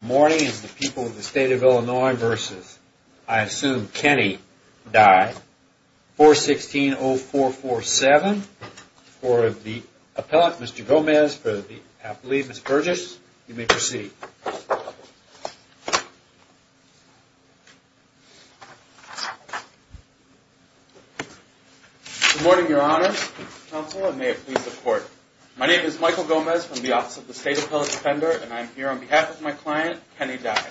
morning is the people of the state of Illinois versus I assume Kenny Dye 416 0447 for the appellate Mr. Gomez for the I believe it's purchase. You may proceed. Good morning, Your Honor, counsel, and may it please the court. My name is Michael Gomez from the Office of the State Appellate Defender, and I'm here on behalf of my client, Kenny Dye.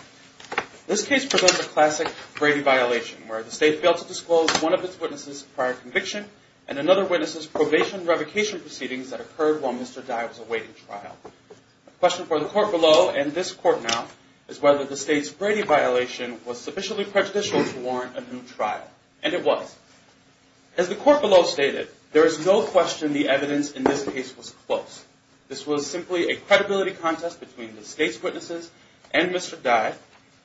This case presents a classic Brady violation where the state failed to disclose one of its witnesses prior conviction and another witness's probation revocation proceedings that occurred while Mr. Dye was awaiting trial. The question for the court below and this court now is whether the state's Brady violation was sufficiently prejudicial to warrant a new trial, and it was. As the court below stated, there is no question the evidence in this case was close. This was simply a credibility contest between the state's witnesses and Mr. Dye,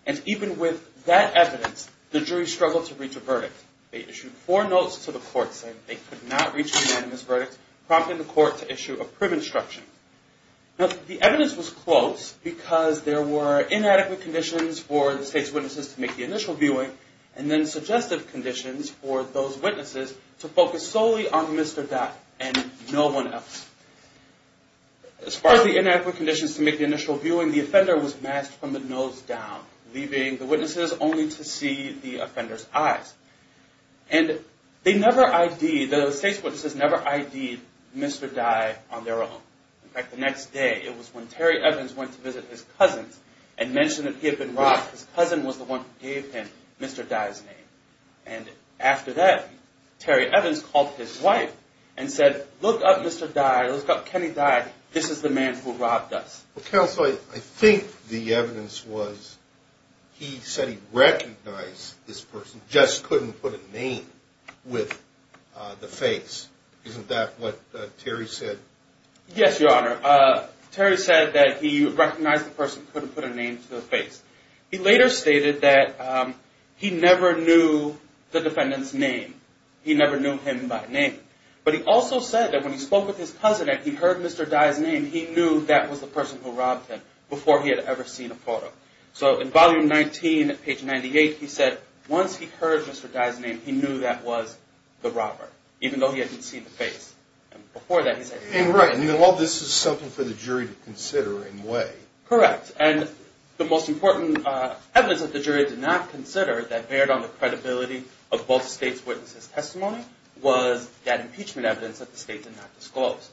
and even with that evidence, the jury struggled to reach a verdict. They issued four notes to the court saying they could not reach a unanimous verdict, prompting the court to issue a prim instruction. Now, the evidence was close because there were inadequate conditions for the state's witnesses to make the initial viewing and then suggestive conditions for those witnesses to focus solely on Mr. Dye and no one else. As far as the inadequate conditions to make the initial viewing, the offender was masked from the nose down, leaving the witnesses only to see the offender's eyes. And they never ID'd, the state's witnesses never ID'd Mr. Dye on their own. In fact, the next day it was when Terry Evans went to visit his cousin and mentioned that he had been robbed. His cousin was the one who gave him Mr. Dye's name. And after that, Terry Evans called his wife and said, look up Mr. Dye, look up Kenny Dye, this is the man who robbed us. Well, counsel, I think the evidence was he said he recognized this person, just couldn't put a name with the face. Isn't that what Terry said? Yes, Your Honor. Terry said that he recognized the person, couldn't put a name to the face. He later stated that he never knew the defendant's name. He never knew him by name. But he also said that when he spoke with his cousin and he heard Mr. Dye's name, he knew that was the person who robbed him before he had ever seen a photo. So in volume 19, page 98, he said once he heard Mr. Dye's name, he knew that was the robber, even though he hadn't seen the face. And before that he said he didn't know. And while this is something for the jury to consider in a way. Correct. And the most important evidence that the jury did not consider that bared on the credibility of both states' witnesses' testimony was that impeachment evidence that the state did not disclose.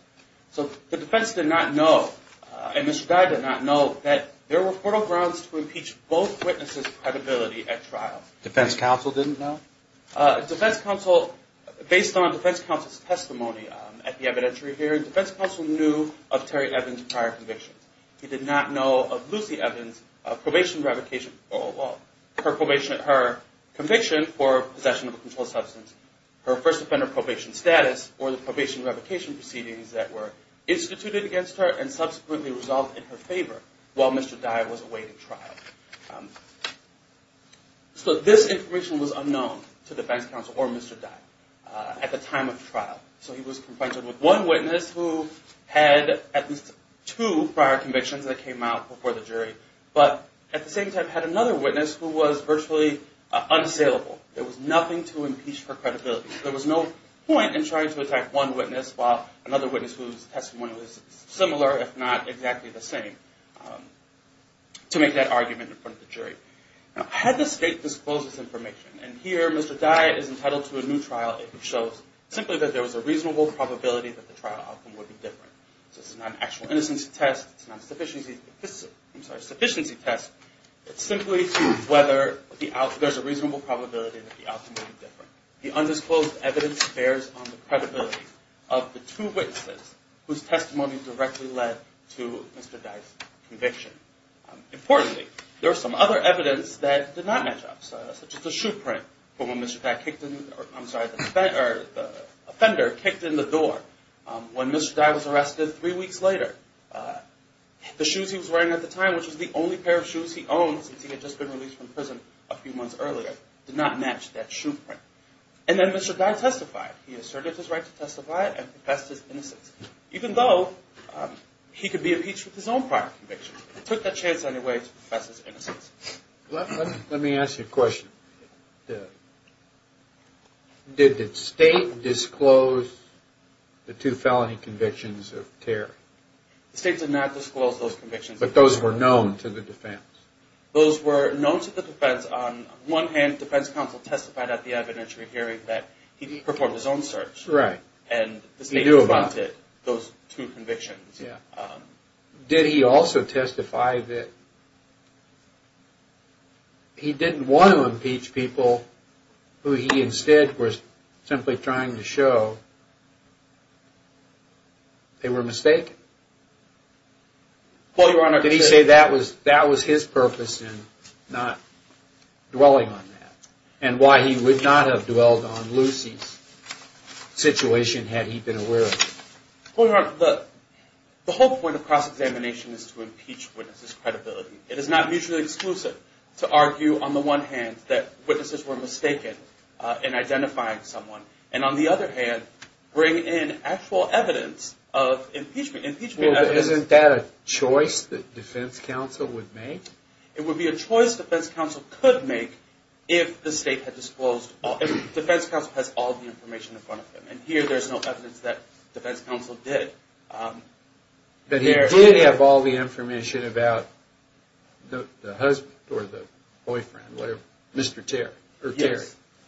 So the defense did not know, and Mr. Dye did not know, that there were fertile grounds to impeach both witnesses' credibility at trial. Defense counsel didn't know? Defense counsel, based on defense counsel's testimony at the evidentiary hearing, defense counsel knew of Terry Evans' prior convictions. He did not know of Lucy Evans' probation revocation, well, her conviction for possession of a controlled substance, her first offender probation status, or the probation revocation proceedings that were instituted against her and subsequently resolved in her favor while Mr. Dye was away at trial. So this information was unknown to defense counsel or Mr. Dye at the time of trial. So he was confronted with one witness who had at least two prior convictions that came out before the jury, but at the same time had another witness who was virtually unassailable. There was nothing to impeach for credibility. There was no point in trying to attack one witness while another witness whose testimony was similar, if not exactly the same, to make that argument in front of the jury. Now, had the state disclosed this information, and here Mr. Dye is entitled to a new trial if it shows simply that there was a reasonable probability that the trial outcome would be different. So it's not an actual innocence test, it's not a sufficiency test. It's simply to whether there's a reasonable probability that the outcome would be different. The undisclosed evidence bears on the credibility of the two witnesses whose testimony directly led to Mr. Dye's conviction. Importantly, there was some other evidence that did not match up, such as the shoe print from when Mr. Dye kicked in the door. When Mr. Dye was arrested three weeks later, the shoes he was wearing at the time, which was the only pair of shoes he owned since he had just been released from prison a few months earlier, did not match that shoe print. And then Mr. Dye testified. He asserted his right to testify and professed his innocence, even though he could be impeached with his own prior convictions. He took that chance anyway to profess his innocence. Let me ask you a question. Did the state disclose the two felony convictions of Terry? The state did not disclose those convictions. But those were known to the defense. Those were known to the defense. On one hand, the defense counsel testified at the evidentiary hearing that he performed his own search. Right. And the state confirmed those two convictions. Did he also testify that he didn't want to impeach people who he instead was simply trying to show they were mistaken? Did he say that was his purpose in not dwelling on that? And why he would not have dwelled on Lucy's situation had he been aware of it? Well, Your Honor, the whole point of cross-examination is to impeach witnesses' credibility. It is not mutually exclusive to argue, on the one hand, that witnesses were mistaken in identifying someone. And, on the other hand, bring in actual evidence of impeachment. Well, isn't that a choice the defense counsel would make? It would be a choice the defense counsel could make if the state had disclosed, if the defense counsel had all the information in front of him. And here there is no evidence that the defense counsel did. But he did have all the information about the husband or the boyfriend, Mr. Terry.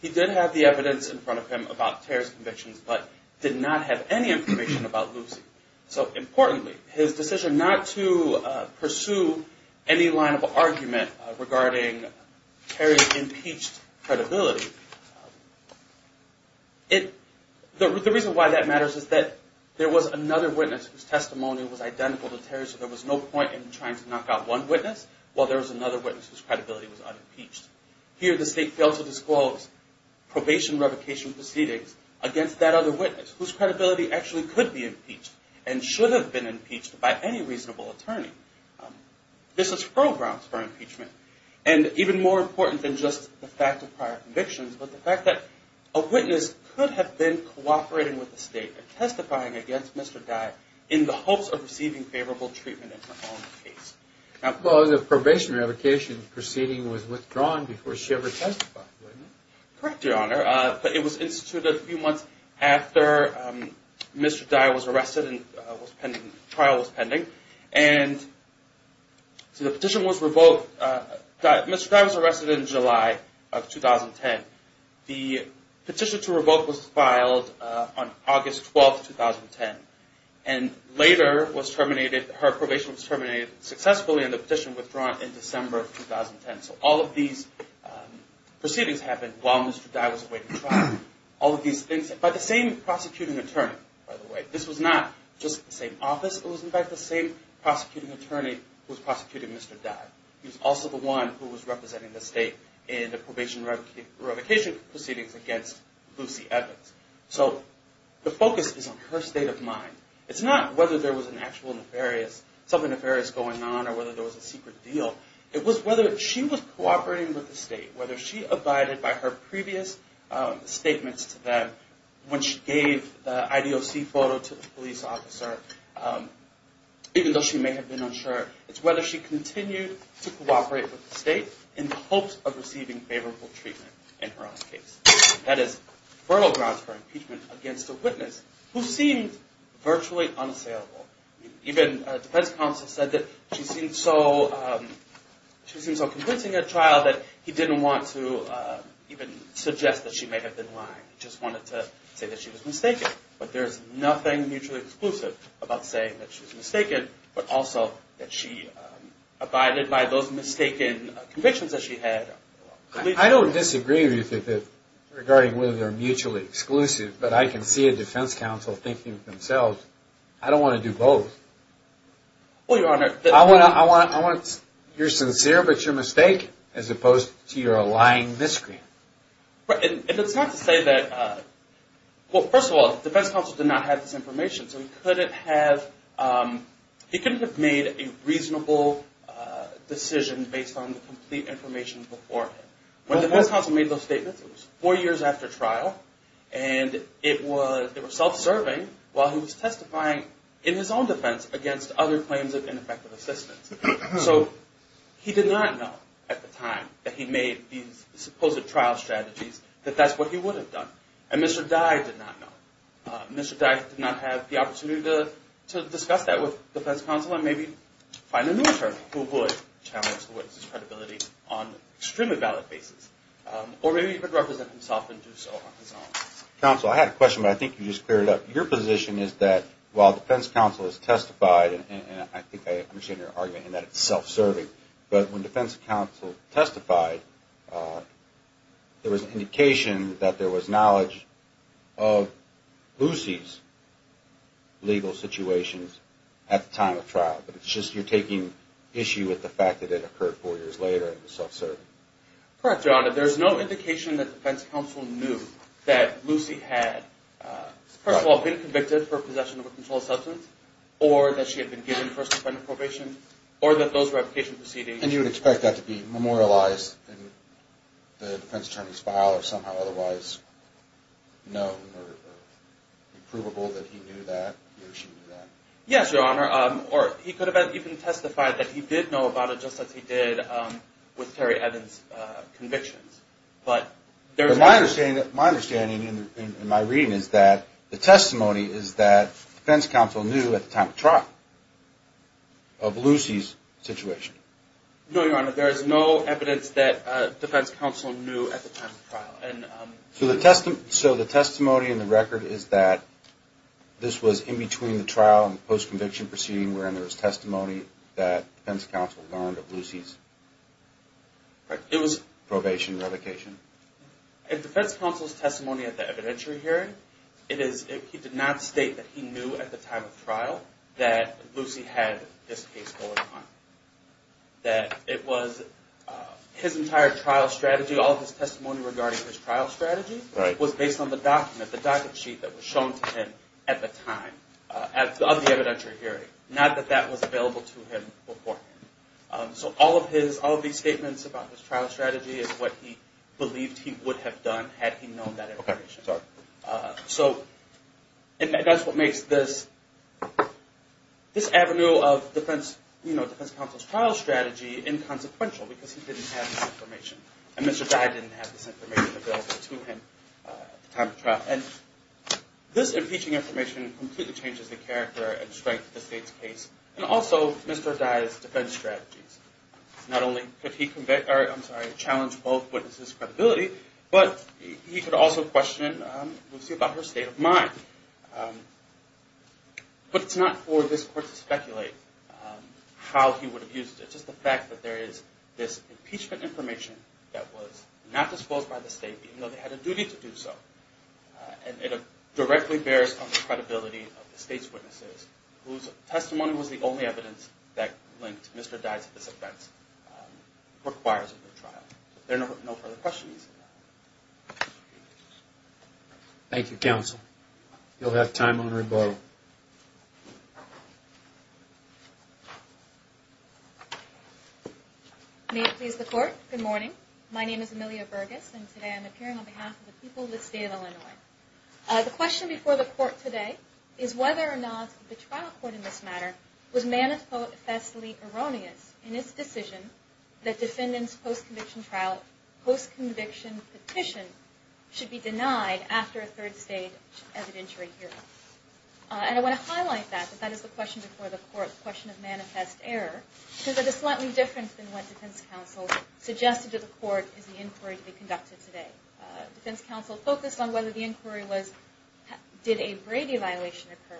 He did have the evidence in front of him about Terry's convictions, but did not have any information about Lucy. So, importantly, his decision not to pursue any line of argument regarding Terry's impeached credibility, the reason why that matters is that there was another witness whose testimony was identical to Terry's, so there was no point in trying to knock out one witness, while there was another witness whose credibility was unimpeached. Here the state failed to disclose probation revocation proceedings against that other witness, whose credibility actually could be impeached and should have been impeached by any reasonable attorney. This is foreground for impeachment. And even more important than just the fact of prior convictions, but the fact that a witness could have been cooperating with the state and testifying against Mr. Dye in the hopes of receiving favorable treatment in his own case. Well, the probation revocation proceeding was withdrawn before she ever testified, wasn't it? Correct, Your Honor. But it was instituted a few months after Mr. Dye was arrested and the trial was pending. And so the petition was revoked. Mr. Dye was arrested in July of 2010. The petition to revoke was filed on August 12, 2010. And later, her probation was terminated successfully and the petition was withdrawn in December of 2010. So all of these proceedings happened while Mr. Dye was awaiting trial. By the same prosecuting attorney, by the way. This was not just the same office. It was in fact the same prosecuting attorney who was prosecuting Mr. Dye. He was also the one who was representing the state in the probation revocation proceedings against Lucy Evans. So the focus is on her state of mind. It's not whether there was an actual nefarious, something nefarious going on or whether there was a secret deal. It was whether she was cooperating with the state, whether she abided by her previous statements to them when she gave the IDOC photo to the police officer, even though she may have been unsure. It's whether she continued to cooperate with the state in the hopes of receiving favorable treatment in her own case. That is fertile grounds for impeachment against a witness who seemed virtually unassailable. Even defense counsel said that she seemed so convincing at trial that he didn't want to even suggest that she may have been lying. He just wanted to say that she was mistaken. But there is nothing mutually exclusive about saying that she was mistaken, but also that she abided by those mistaken convictions that she had. I don't disagree with you regarding whether they're mutually exclusive, but I can see a defense counsel thinking to themselves, I don't want to do both. Well, Your Honor, I want, you're sincere, but you're mistaken, as opposed to you're a lying miscreant. And it's not to say that, well, first of all, the defense counsel did not have this information, so he couldn't have made a reasonable decision based on the complete information before him. When the defense counsel made those statements, it was four years after trial, and they were self-serving while he was testifying in his own defense against other claims of ineffective assistance. So he did not know at the time that he made these supposed trial strategies that that's what he would have done. And Mr. Dye did not know. Mr. Dye did not have the opportunity to discuss that with the defense counsel and maybe find a new attorney who would challenge the witness' credibility on an extremely valid basis. Or maybe he could represent himself and do so on his own. Counsel, I had a question, but I think you just cleared it up. Your position is that while the defense counsel has testified, and I think I understand your argument in that it's self-serving, but when defense counsel testified, there was indication that there was knowledge of Lucy's legal situations at the time of trial. But it's just you're taking issue with the fact that it occurred four years later and was self-serving. Correct, Your Honor. There's no indication that defense counsel knew that Lucy had, first of all, been convicted for possession of a controlled substance, or that she had been given first-defendant probation, or that those revocation proceedings... And you would expect that to be memorialized in the defense attorney's file or somehow otherwise known or provable that he knew that or she knew that? Yes, Your Honor. Or he could have even testified that he did know about it just as he did with Terry Evans' convictions. But there's no... My understanding in my reading is that the testimony is that defense counsel knew at the time of trial of Lucy's situation. No, Your Honor. There is no evidence that defense counsel knew at the time of trial. So the testimony in the record is that this was in between the trial and the post-conviction proceeding wherein there was testimony that defense counsel learned of Lucy's probation, revocation? In defense counsel's testimony at the evidentiary hearing, he did not state that he knew at the time of trial that Lucy had this case going on, that it was his entire trial strategy, all of his testimony regarding his trial strategy, was based on the document, the docket sheet that was shown to him at the time of the evidentiary hearing, not that that was available to him beforehand. So all of these statements about his trial strategy is what he believed he would have done had he known that information. So that's what makes this avenue of defense counsel's trial strategy inconsequential because he didn't have this information. And Mr. Dye didn't have this information available to him at the time of trial. And this impeaching information completely changes the character and strength of the state's case and also Mr. Dye's defense strategies. Not only could he challenge both witnesses' credibility, but he could also question Lucy about her state of mind. But it's not for this court to speculate how he would have used it. It's just the fact that there is this impeachment information that was not disclosed by the state, even though they had a duty to do so. And it directly bears on the credibility of the state's witnesses, whose testimony was the only evidence that linked Mr. Dye to this offense, requires a new trial. There are no further questions. Thank you, counsel. You'll have time on rebuttal. May it please the Court, good morning. My name is Amelia Burgess, and today I'm appearing on behalf of the people of the state of Illinois. The question before the Court today is whether or not the trial court in this matter was manifestly erroneous in its decision that defendants' post-conviction trial, post-conviction petition should be denied after a third-stage evidentiary hearing. And I want to highlight that, that that is the question before the Court, the question of manifest error, because it is slightly different than what defense counsel suggested to the Court as the inquiry to be conducted today. Defense counsel focused on whether the inquiry was, did a Brady violation occur.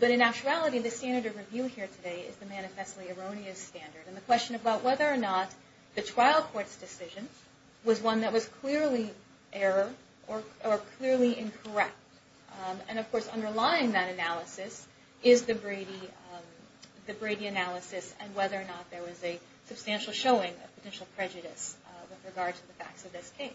But in actuality, the standard of review here today is the manifestly erroneous standard, and the question about whether or not the trial court's decision was one that was clearly error or clearly incorrect. And of course, underlying that analysis is the Brady analysis and whether or not there was a substantial showing of potential prejudice with regard to the facts of this case.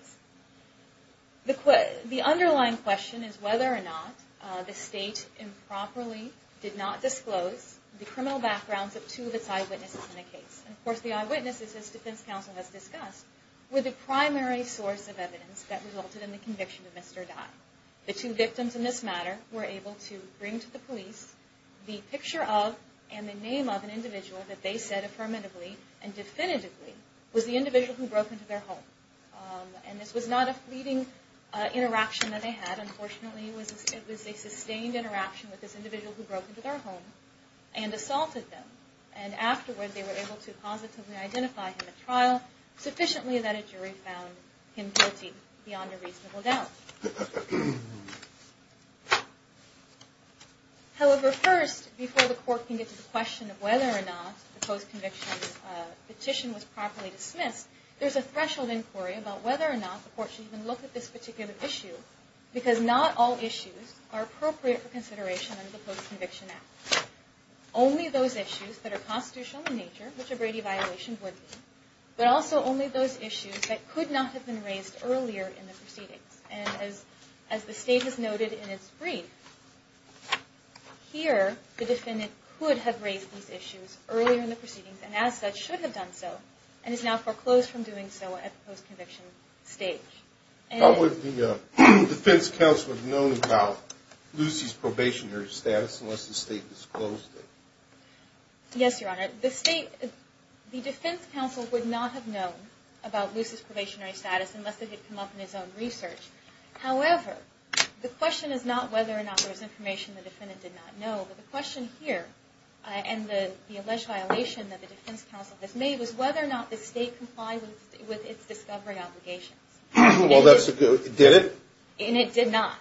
The underlying question is whether or not the state improperly did not disclose the criminal backgrounds of two of its eyewitnesses in the case. And of course, the eyewitnesses, as defense counsel has discussed, were the primary source of evidence that resulted in the conviction of Mr. Dye. The two victims in this matter were able to bring to the police the picture of and the name of an individual that they said affirmatively and definitively was the individual who broke into their home. And this was not a fleeting interaction that they had. Unfortunately, it was a sustained interaction with this individual who broke into their home and assaulted them. And afterward, they were able to positively identify him at trial, sufficiently that a jury found him guilty beyond a reasonable doubt. However, first, before the court can get to the question of whether or not the post-conviction petition was properly dismissed, there's a threshold inquiry about whether or not the court should even look at this particular issue because not all issues are appropriate for consideration under the Post-Conviction Act. Only those issues that are constitutional in nature, which a Brady violation would be, but also only those issues that could not have been raised earlier in the proceedings. And as the State has noted in its brief, here the defendant could have raised these issues earlier in the proceedings and as such should have done so and has now foreclosed from doing so at the post-conviction stage. How would the defense counsel have known about Lucy's probationary status unless the State disclosed it? Yes, Your Honor. The State, the defense counsel would not have known about Lucy's probationary status unless it had come up in his own research. However, the question is not whether or not there's information the defendant did not know, but the question here and the alleged violation that the defense counsel has made was whether or not the State complied with its discovery obligations. Well, that's a good, did it? And it did not.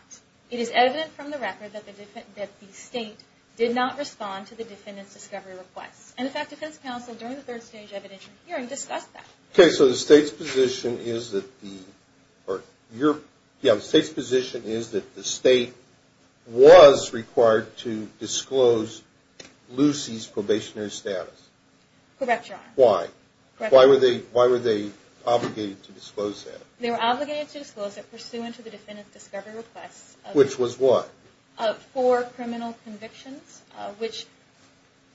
It is evident from the record that the State did not respond to the defendant's discovery requests. And in fact, defense counsel during the third stage evidentiary hearing discussed that. Okay, so the State's position is that the State was required to disclose Lucy's probationary status. Correct, Your Honor. Why? Why were they obligated to disclose that? They were obligated to disclose it pursuant to the defendant's discovery requests. Which was what? Four criminal convictions, which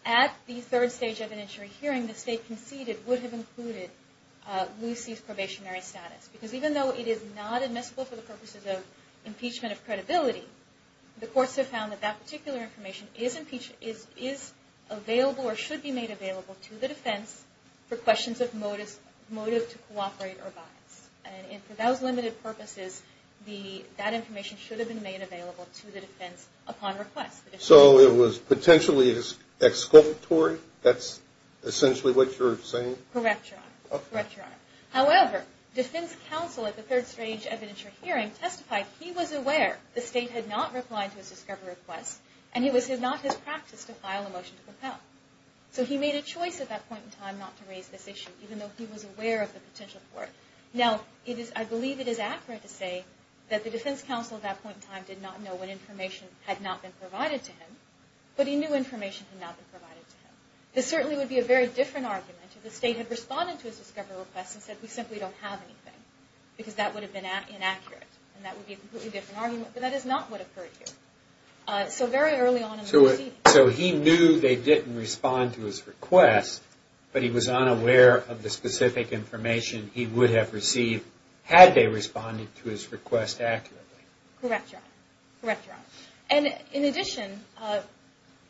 at the third stage evidentiary hearing the State conceded that it would have included Lucy's probationary status. Because even though it is not admissible for the purposes of impeachment of credibility, the courts have found that that particular information is available or should be made available to the defense for questions of motive to cooperate or bias. And for those limited purposes, that information should have been made available to the defense upon request. So it was potentially exculpatory? That's essentially what you're saying? Correct, Your Honor. Correct, Your Honor. However, defense counsel at the third stage evidentiary hearing testified he was aware the State had not replied to his discovery requests and it was not his practice to file a motion to propel. So he made a choice at that point in time not to raise this issue, even though he was aware of the potential for it. Now, I believe it is accurate to say that the defense counsel at that point in time did not know when information had not been provided to him, but he knew information had not been provided to him. This certainly would be a very different argument if the State had responded to his discovery requests and said we simply don't have anything, because that would have been inaccurate. And that would be a completely different argument, but that is not what occurred here. So very early on in the proceedings. So he knew they didn't respond to his request, but he was unaware of the specific information he would have received had they responded to his request accurately? Correct, Your Honor. Correct, Your Honor. And in addition,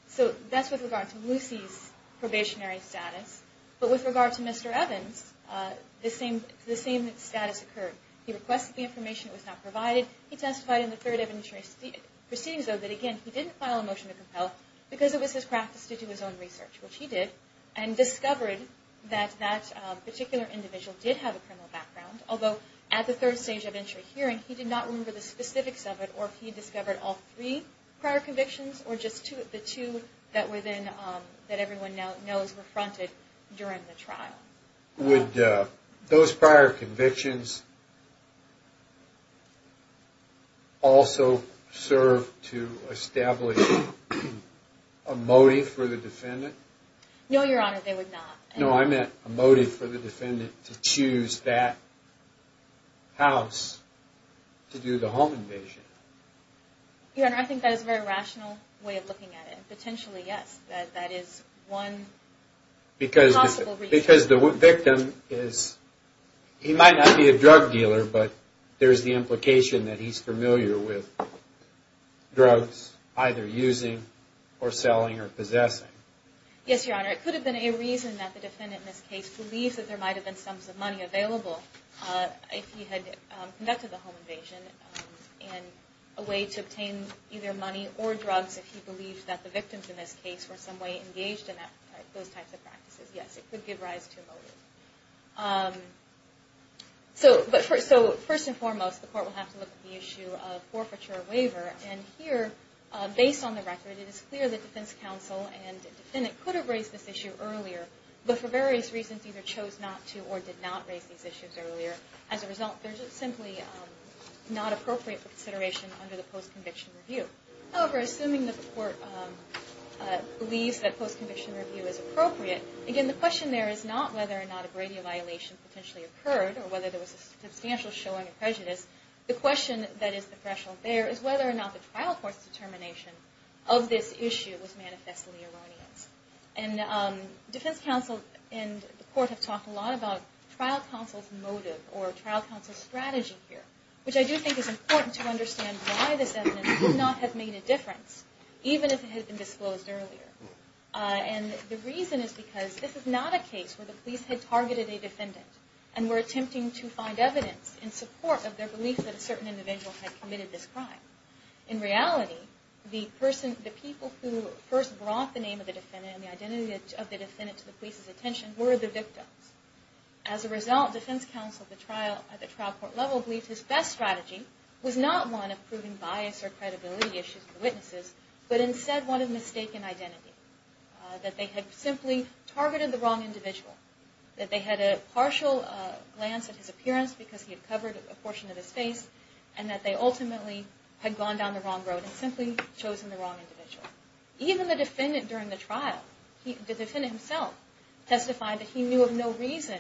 so that's with regard to Lucy's probationary status, but with regard to Mr. Evans, the same status occurred. He requested the information that was not provided. He testified in the third evidentiary proceedings, though, that, again, he didn't file a motion to propel because it was his practice to do his own research, which he did, and discovered that that particular individual did have a criminal background, although at the third stage of evidentiary hearing, he did not remember the specifics of it or if he discovered all three prior convictions or just the two that everyone knows were fronted during the trial. Would those prior convictions also serve to establish a motive for the defendant? No, Your Honor, they would not. No, I meant a motive for the defendant to choose that house to do the home invasion. Your Honor, I think that is a very rational way of looking at it. Potentially, yes, that is one possible reason. Because the victim is, he might not be a drug dealer, but there's the implication that he's familiar with drugs, either using or selling or possessing. Yes, Your Honor, it could have been a reason that the defendant in this case believes that there might have been sums of money available if he had conducted the home invasion and a way to obtain either money or drugs if he believes that the victims in this case were in some way engaged in those types of practices. Yes, it could give rise to a motive. So, first and foremost, the court will have to look at the issue of forfeiture or waiver. And here, based on the record, it is clear that defense counsel and the defendant could have raised this issue earlier, but for various reasons, either chose not to or did not raise these issues earlier. As a result, there's simply not appropriate consideration under the post-conviction review. However, assuming that the court believes that post-conviction review is appropriate, again, the question there is not whether or not a Brady violation potentially occurred or whether there was a substantial showing of prejudice. The question that is the threshold there is whether or not the trial court's determination of this issue was manifestly erroneous. And defense counsel and the court have talked a lot about trial counsel's motive or trial counsel's strategy here, which I do think is important to understand why this evidence could not have made a difference, even if it had been disclosed earlier. And the reason is because this is not a case where the police had targeted a defendant and were attempting to find evidence in support of their belief that a certain individual had committed this crime. In reality, the people who first brought the name of the defendant and the identity of the defendant to the police's attention were the victims. As a result, defense counsel at the trial court level believed his best strategy was not one of proving bias or credibility issues for the witnesses, but instead one of mistaken identity, that they had simply targeted the wrong individual, that they had a partial glance at his appearance because he had covered a portion of his face, and that they ultimately had gone down the wrong road and simply chosen the wrong individual. Even the defendant during the trial, the defendant himself testified that he knew of no reason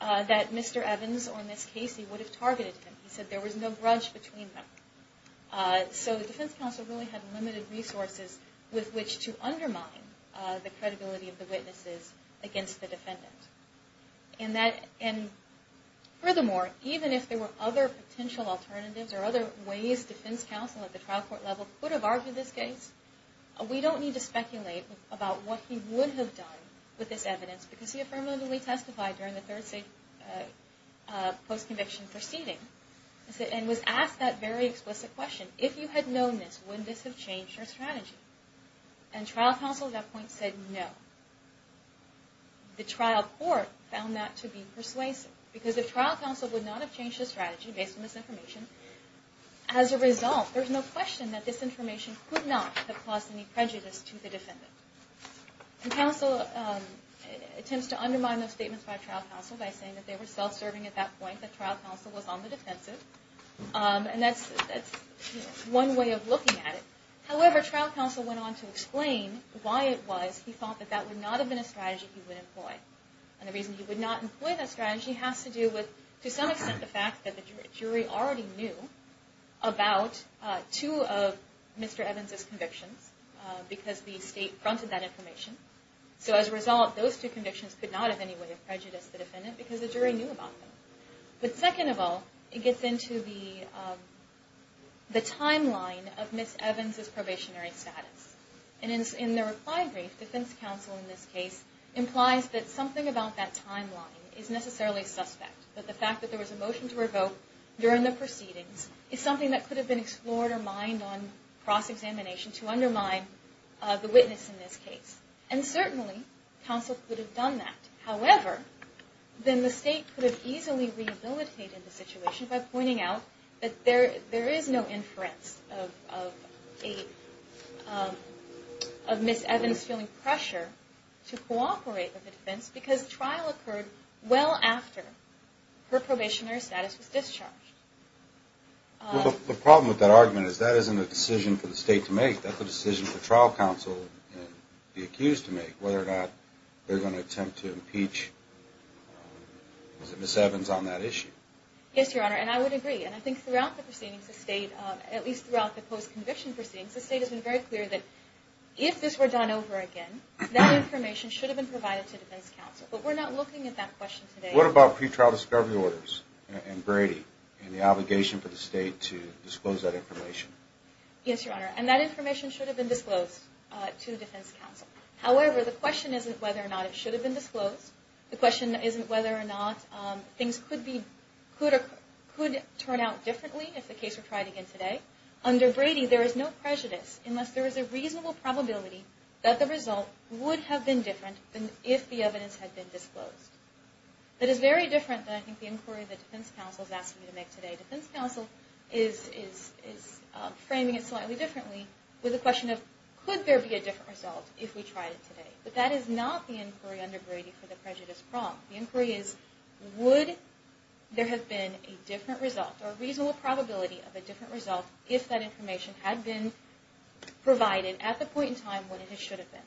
that Mr. Evans or Ms. Casey would have targeted him. He said there was no grudge between them. So the defense counsel really had limited resources with which to undermine the credibility of the witnesses against the defendant. And furthermore, even if there were other potential alternatives or other ways defense counsel at the trial court level could have argued this case, we don't need to speculate about what he would have done with this evidence because he affirmatively testified during the third post-conviction proceeding and was asked that very explicit question. And trial counsel at that point said no. The trial court found that to be persuasive because if trial counsel would not have changed his strategy based on this information, as a result, there's no question that this information could not have caused any prejudice to the defendant. And counsel attempts to undermine those statements by trial counsel by saying that they were self-serving at that point, that trial counsel was on the defensive. And that's one way of looking at it. However, trial counsel went on to explain why it was he thought that that would not have been a strategy he would employ. And the reason he would not employ that strategy has to do with, to some extent, the fact that the jury already knew about two of Mr. Evans' convictions because the state fronted that information. So as a result, those two convictions could not have any way of prejudice the defendant because the jury knew about them. But second of all, it gets into the timeline of Ms. Evans' probationary status. And in the reply brief, defense counsel, in this case, implies that something about that timeline is necessarily suspect, that the fact that there was a motion to revoke during the proceedings is something that could have been explored or mined on cross-examination to undermine the witness in this case. And certainly, counsel could have done that. However, then the state could have easily rehabilitated the situation by pointing out that there is no inference of Ms. Evans feeling pressure to cooperate with the defense because the trial occurred well after her probationary status was discharged. The problem with that argument is that isn't a decision for the state to make. That's a decision for trial counsel to be accused to make, whether or not they're going to attempt to impeach Ms. Evans on that issue. Yes, Your Honor, and I would agree. And I think throughout the proceedings, the state, at least throughout the post-conviction proceedings, the state has been very clear that if this were done over again, that information should have been provided to defense counsel. But we're not looking at that question today. What about pretrial discovery orders and Brady and the obligation for the state to disclose that information? Yes, Your Honor, and that information should have been disclosed to defense counsel. However, the question isn't whether or not it should have been disclosed. The question isn't whether or not things could turn out differently if the case were tried again today. Under Brady, there is no prejudice unless there is a reasonable probability that the result would have been different if the evidence had been disclosed. That is very different than I think the inquiry that defense counsel is asking me to make today. Defense counsel is framing it slightly differently with the question of, could there be a different result if we tried it today? But that is not the inquiry under Brady for the prejudice problem. The inquiry is, would there have been a different result or a reasonable probability of a different result if that information had been provided at the point in time when it should have been.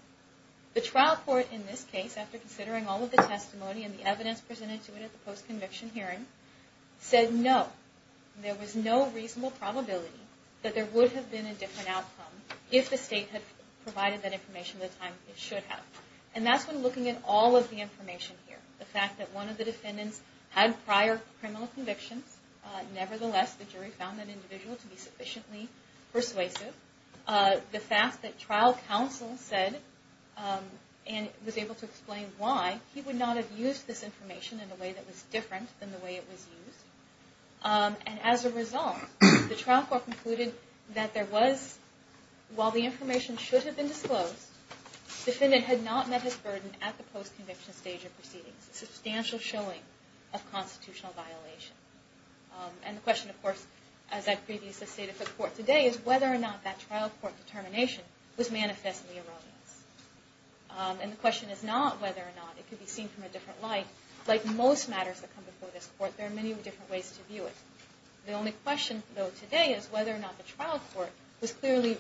The trial court in this case, after considering all of the testimony and the evidence presented to it at the post-conviction hearing, said no. There was no reasonable probability that there would have been a different outcome if the state had provided that information at the time it should have. And that's when looking at all of the information here. The fact that one of the defendants had prior criminal convictions. Nevertheless, the jury found that individual to be sufficiently persuasive. The fact that trial counsel said and was able to explain why he would not have used this information in a way that was different than the way it was used. And as a result, the trial court concluded that there was, while the information should have been disclosed, the defendant had not met his burden at the post-conviction stage of proceedings. Substantial showing of constitutional violation. And the question of course, as I previously stated for the court today, is whether or not that trial court determination was manifest in the erroneous. And the question is not whether or not it could be seen from a different light. Like most matters that come before this court, there are many different ways to view it. The only question though today is whether or not the trial court was clearly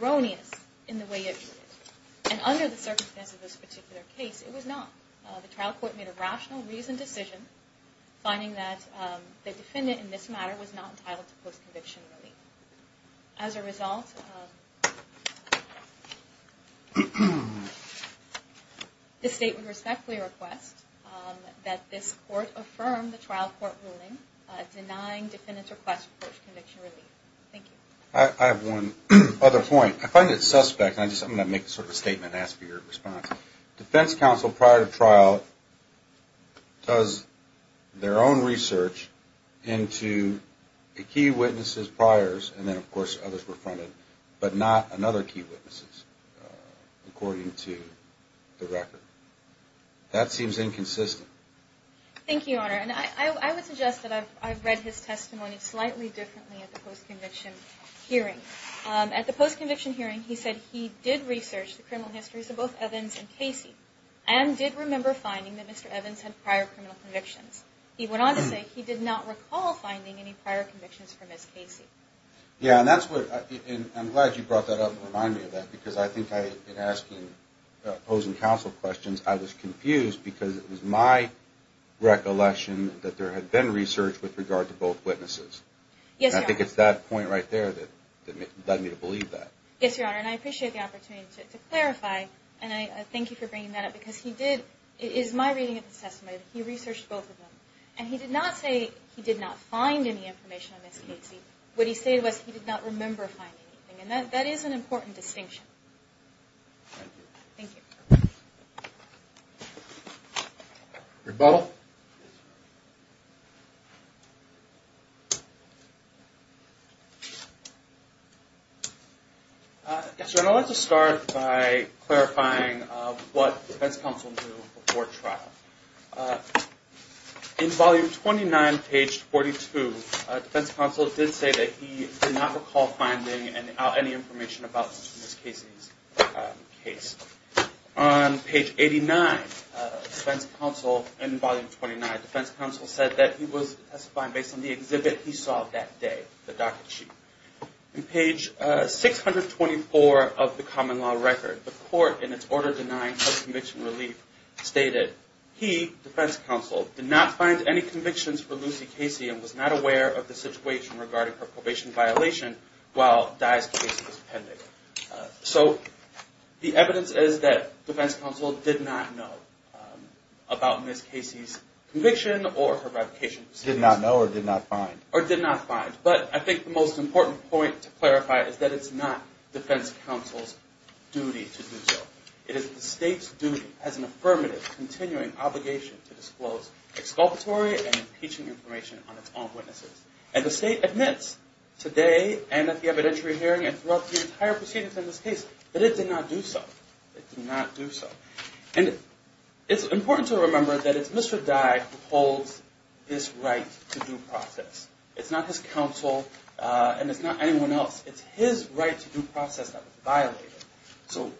erroneous in the way it viewed it. And under the circumstances of this particular case, it was not. The trial court made a rational reasoned decision, finding that the defendant in this matter was not entitled to post-conviction relief. As a result, this state would respectfully request that this court affirm the trial court ruling denying defendant's request for post-conviction relief. Thank you. I have one other point. I find it suspect, and I'm just going to make sort of a statement and ask for your response. Defense counsel prior to trial does their own research into the key witnesses prior, and then of course others were fronted, but not another key witness according to the record. That seems inconsistent. Thank you, Your Honor. And I would suggest that I've read his testimony slightly differently at the post-conviction hearing. At the post-conviction hearing, he said he did research the criminal histories of both Evans and Casey and did remember finding that Mr. Evans had prior criminal convictions. He went on to say he did not recall finding any prior convictions for Ms. Casey. Yeah, and I'm glad you brought that up and reminded me of that, because I think in asking opposing counsel questions, I was confused because it was my recollection that there had been research with regard to both witnesses. Yes, Your Honor. And I think it's that point right there that led me to believe that. Yes, Your Honor. And I appreciate the opportunity to clarify, and I thank you for bringing that up, because it is my reading of his testimony that he researched both of them, and he did not say he did not find any information on Ms. Casey. What he said was he did not remember finding anything, and that is an important distinction. Thank you. Thank you. Rebuttal. Yes, Your Honor. Yes, Your Honor, I'd like to start by clarifying what defense counsel knew before trial. In volume 29, page 42, defense counsel did say that he did not recall finding any information about Ms. Casey's case. On page 89, defense counsel, in volume 29, defense counsel said that he was testifying based on the exhibit he saw that day, the docket sheet. In page 624 of the common law record, the court, in its order denying her conviction relief, stated, he, defense counsel, did not find any convictions for Lucy Casey and was not aware of the situation regarding her probation violation while Dye's case was pending. So the evidence is that defense counsel did not know about Ms. Casey's conviction or her revocation proceedings. Did not know or did not find. Or did not find. But I think the most important point to clarify is that it's not defense counsel's duty to do so. It is the state's duty as an affirmative continuing obligation to disclose exculpatory and impeaching information on its own witnesses. And the state admits today and at the evidentiary hearing and throughout the entire proceedings in this case that it did not do so. It did not do so. And it's important to remember that it's Mr. Dye who holds this right to due process. It's not his counsel and it's not anyone else. So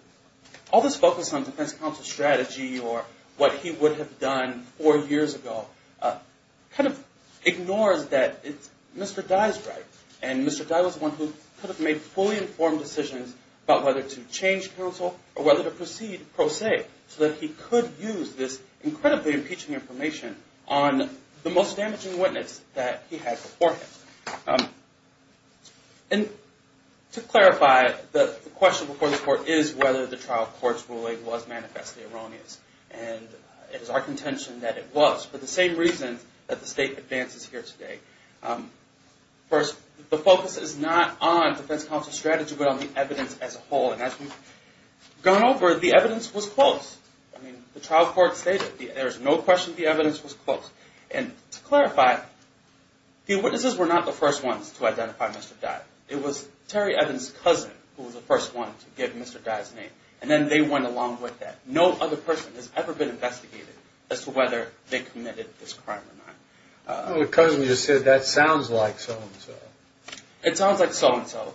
all this focus on defense counsel's strategy or what he would have done four years ago kind of ignores that it's Mr. Dye's right. And Mr. Dye was the one who could have made fully informed decisions about whether to change counsel or whether to proceed pro se so that he could use this incredibly impeaching information on the most damaging witness that he had before him. And to clarify, the question before the court is whether the trial court's ruling was manifestly erroneous. And it is our contention that it was for the same reason that the state advances here today. First, the focus is not on defense counsel's strategy but on the evidence as a whole. And as we've gone over, the evidence was close. I mean, the trial court stated there's no question the evidence was close. And to clarify, the witnesses were not the first ones to identify Mr. Dye. It was Terry Evans' cousin who was the first one to give Mr. Dye's name. And then they went along with that. No other person has ever been investigated as to whether they committed this crime or not. The cousin just said that sounds like so-and-so. It sounds like so-and-so.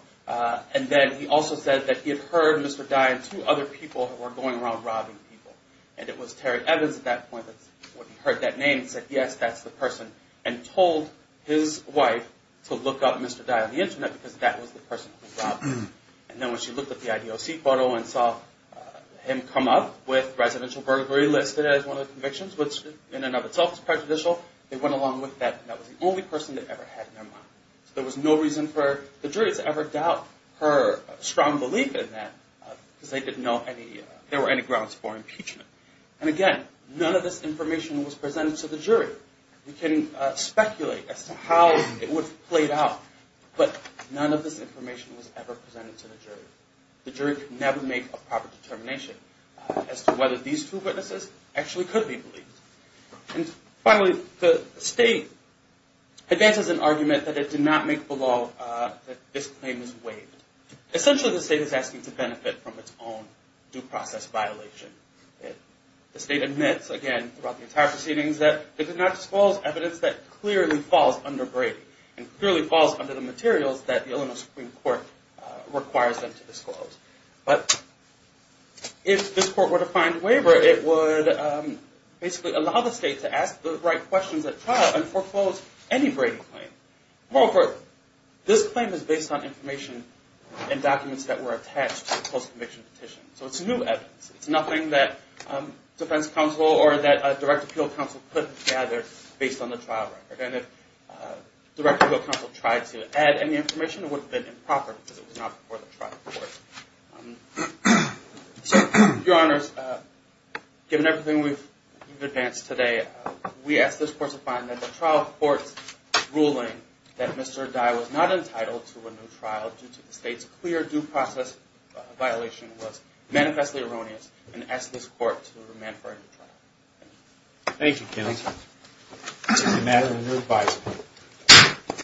And then he also said that he had heard Mr. Dye and two other people who were going around robbing people. And it was Terry Evans at that point when he heard that name and said, yes, that's the person, and told his wife to look up Mr. Dye on the Internet because that was the person who robbed him. And then when she looked at the IDOC photo and saw him come up with residential burglary listed as one of the convictions, which in and of itself is prejudicial, they went along with that. And that was the only person they ever had in their mind. So there was no reason for the jurors to ever doubt her strong belief in that because they didn't know there were any grounds for impeachment. And again, none of this information was presented to the jury. We can speculate as to how it would have played out, but none of this information was ever presented to the jury. The jury could never make a proper determination as to whether these two witnesses actually could be believed. And finally, the state advances an argument that it did not make the law that this claim was waived. Essentially, the state is asking to benefit from its own due process violation. The state admits, again, throughout the entire proceedings, that it did not disclose evidence that clearly falls under Brady and clearly falls under the materials that the Illinois Supreme Court requires them to disclose. But if this court were to find waiver, it would basically allow the state to ask the right questions at trial and foreclose any Brady claim. Moreover, this claim is based on information and documents that were attached to the post-conviction petition. So it's new evidence. It's nothing that defense counsel or that direct appeal counsel could gather based on the trial record. And if direct appeal counsel tried to add any information, it would have been improper because it was not before the trial court. So, Your Honors, given everything we've advanced today, we ask this court to find that the trial court's ruling that Mr. Dye was not entitled to a new trial due to the state's clear due process violation was manifestly erroneous and ask this court to remand for a new trial. Thank you. Thank you, Kenneth. Thank you. The matter is now advised.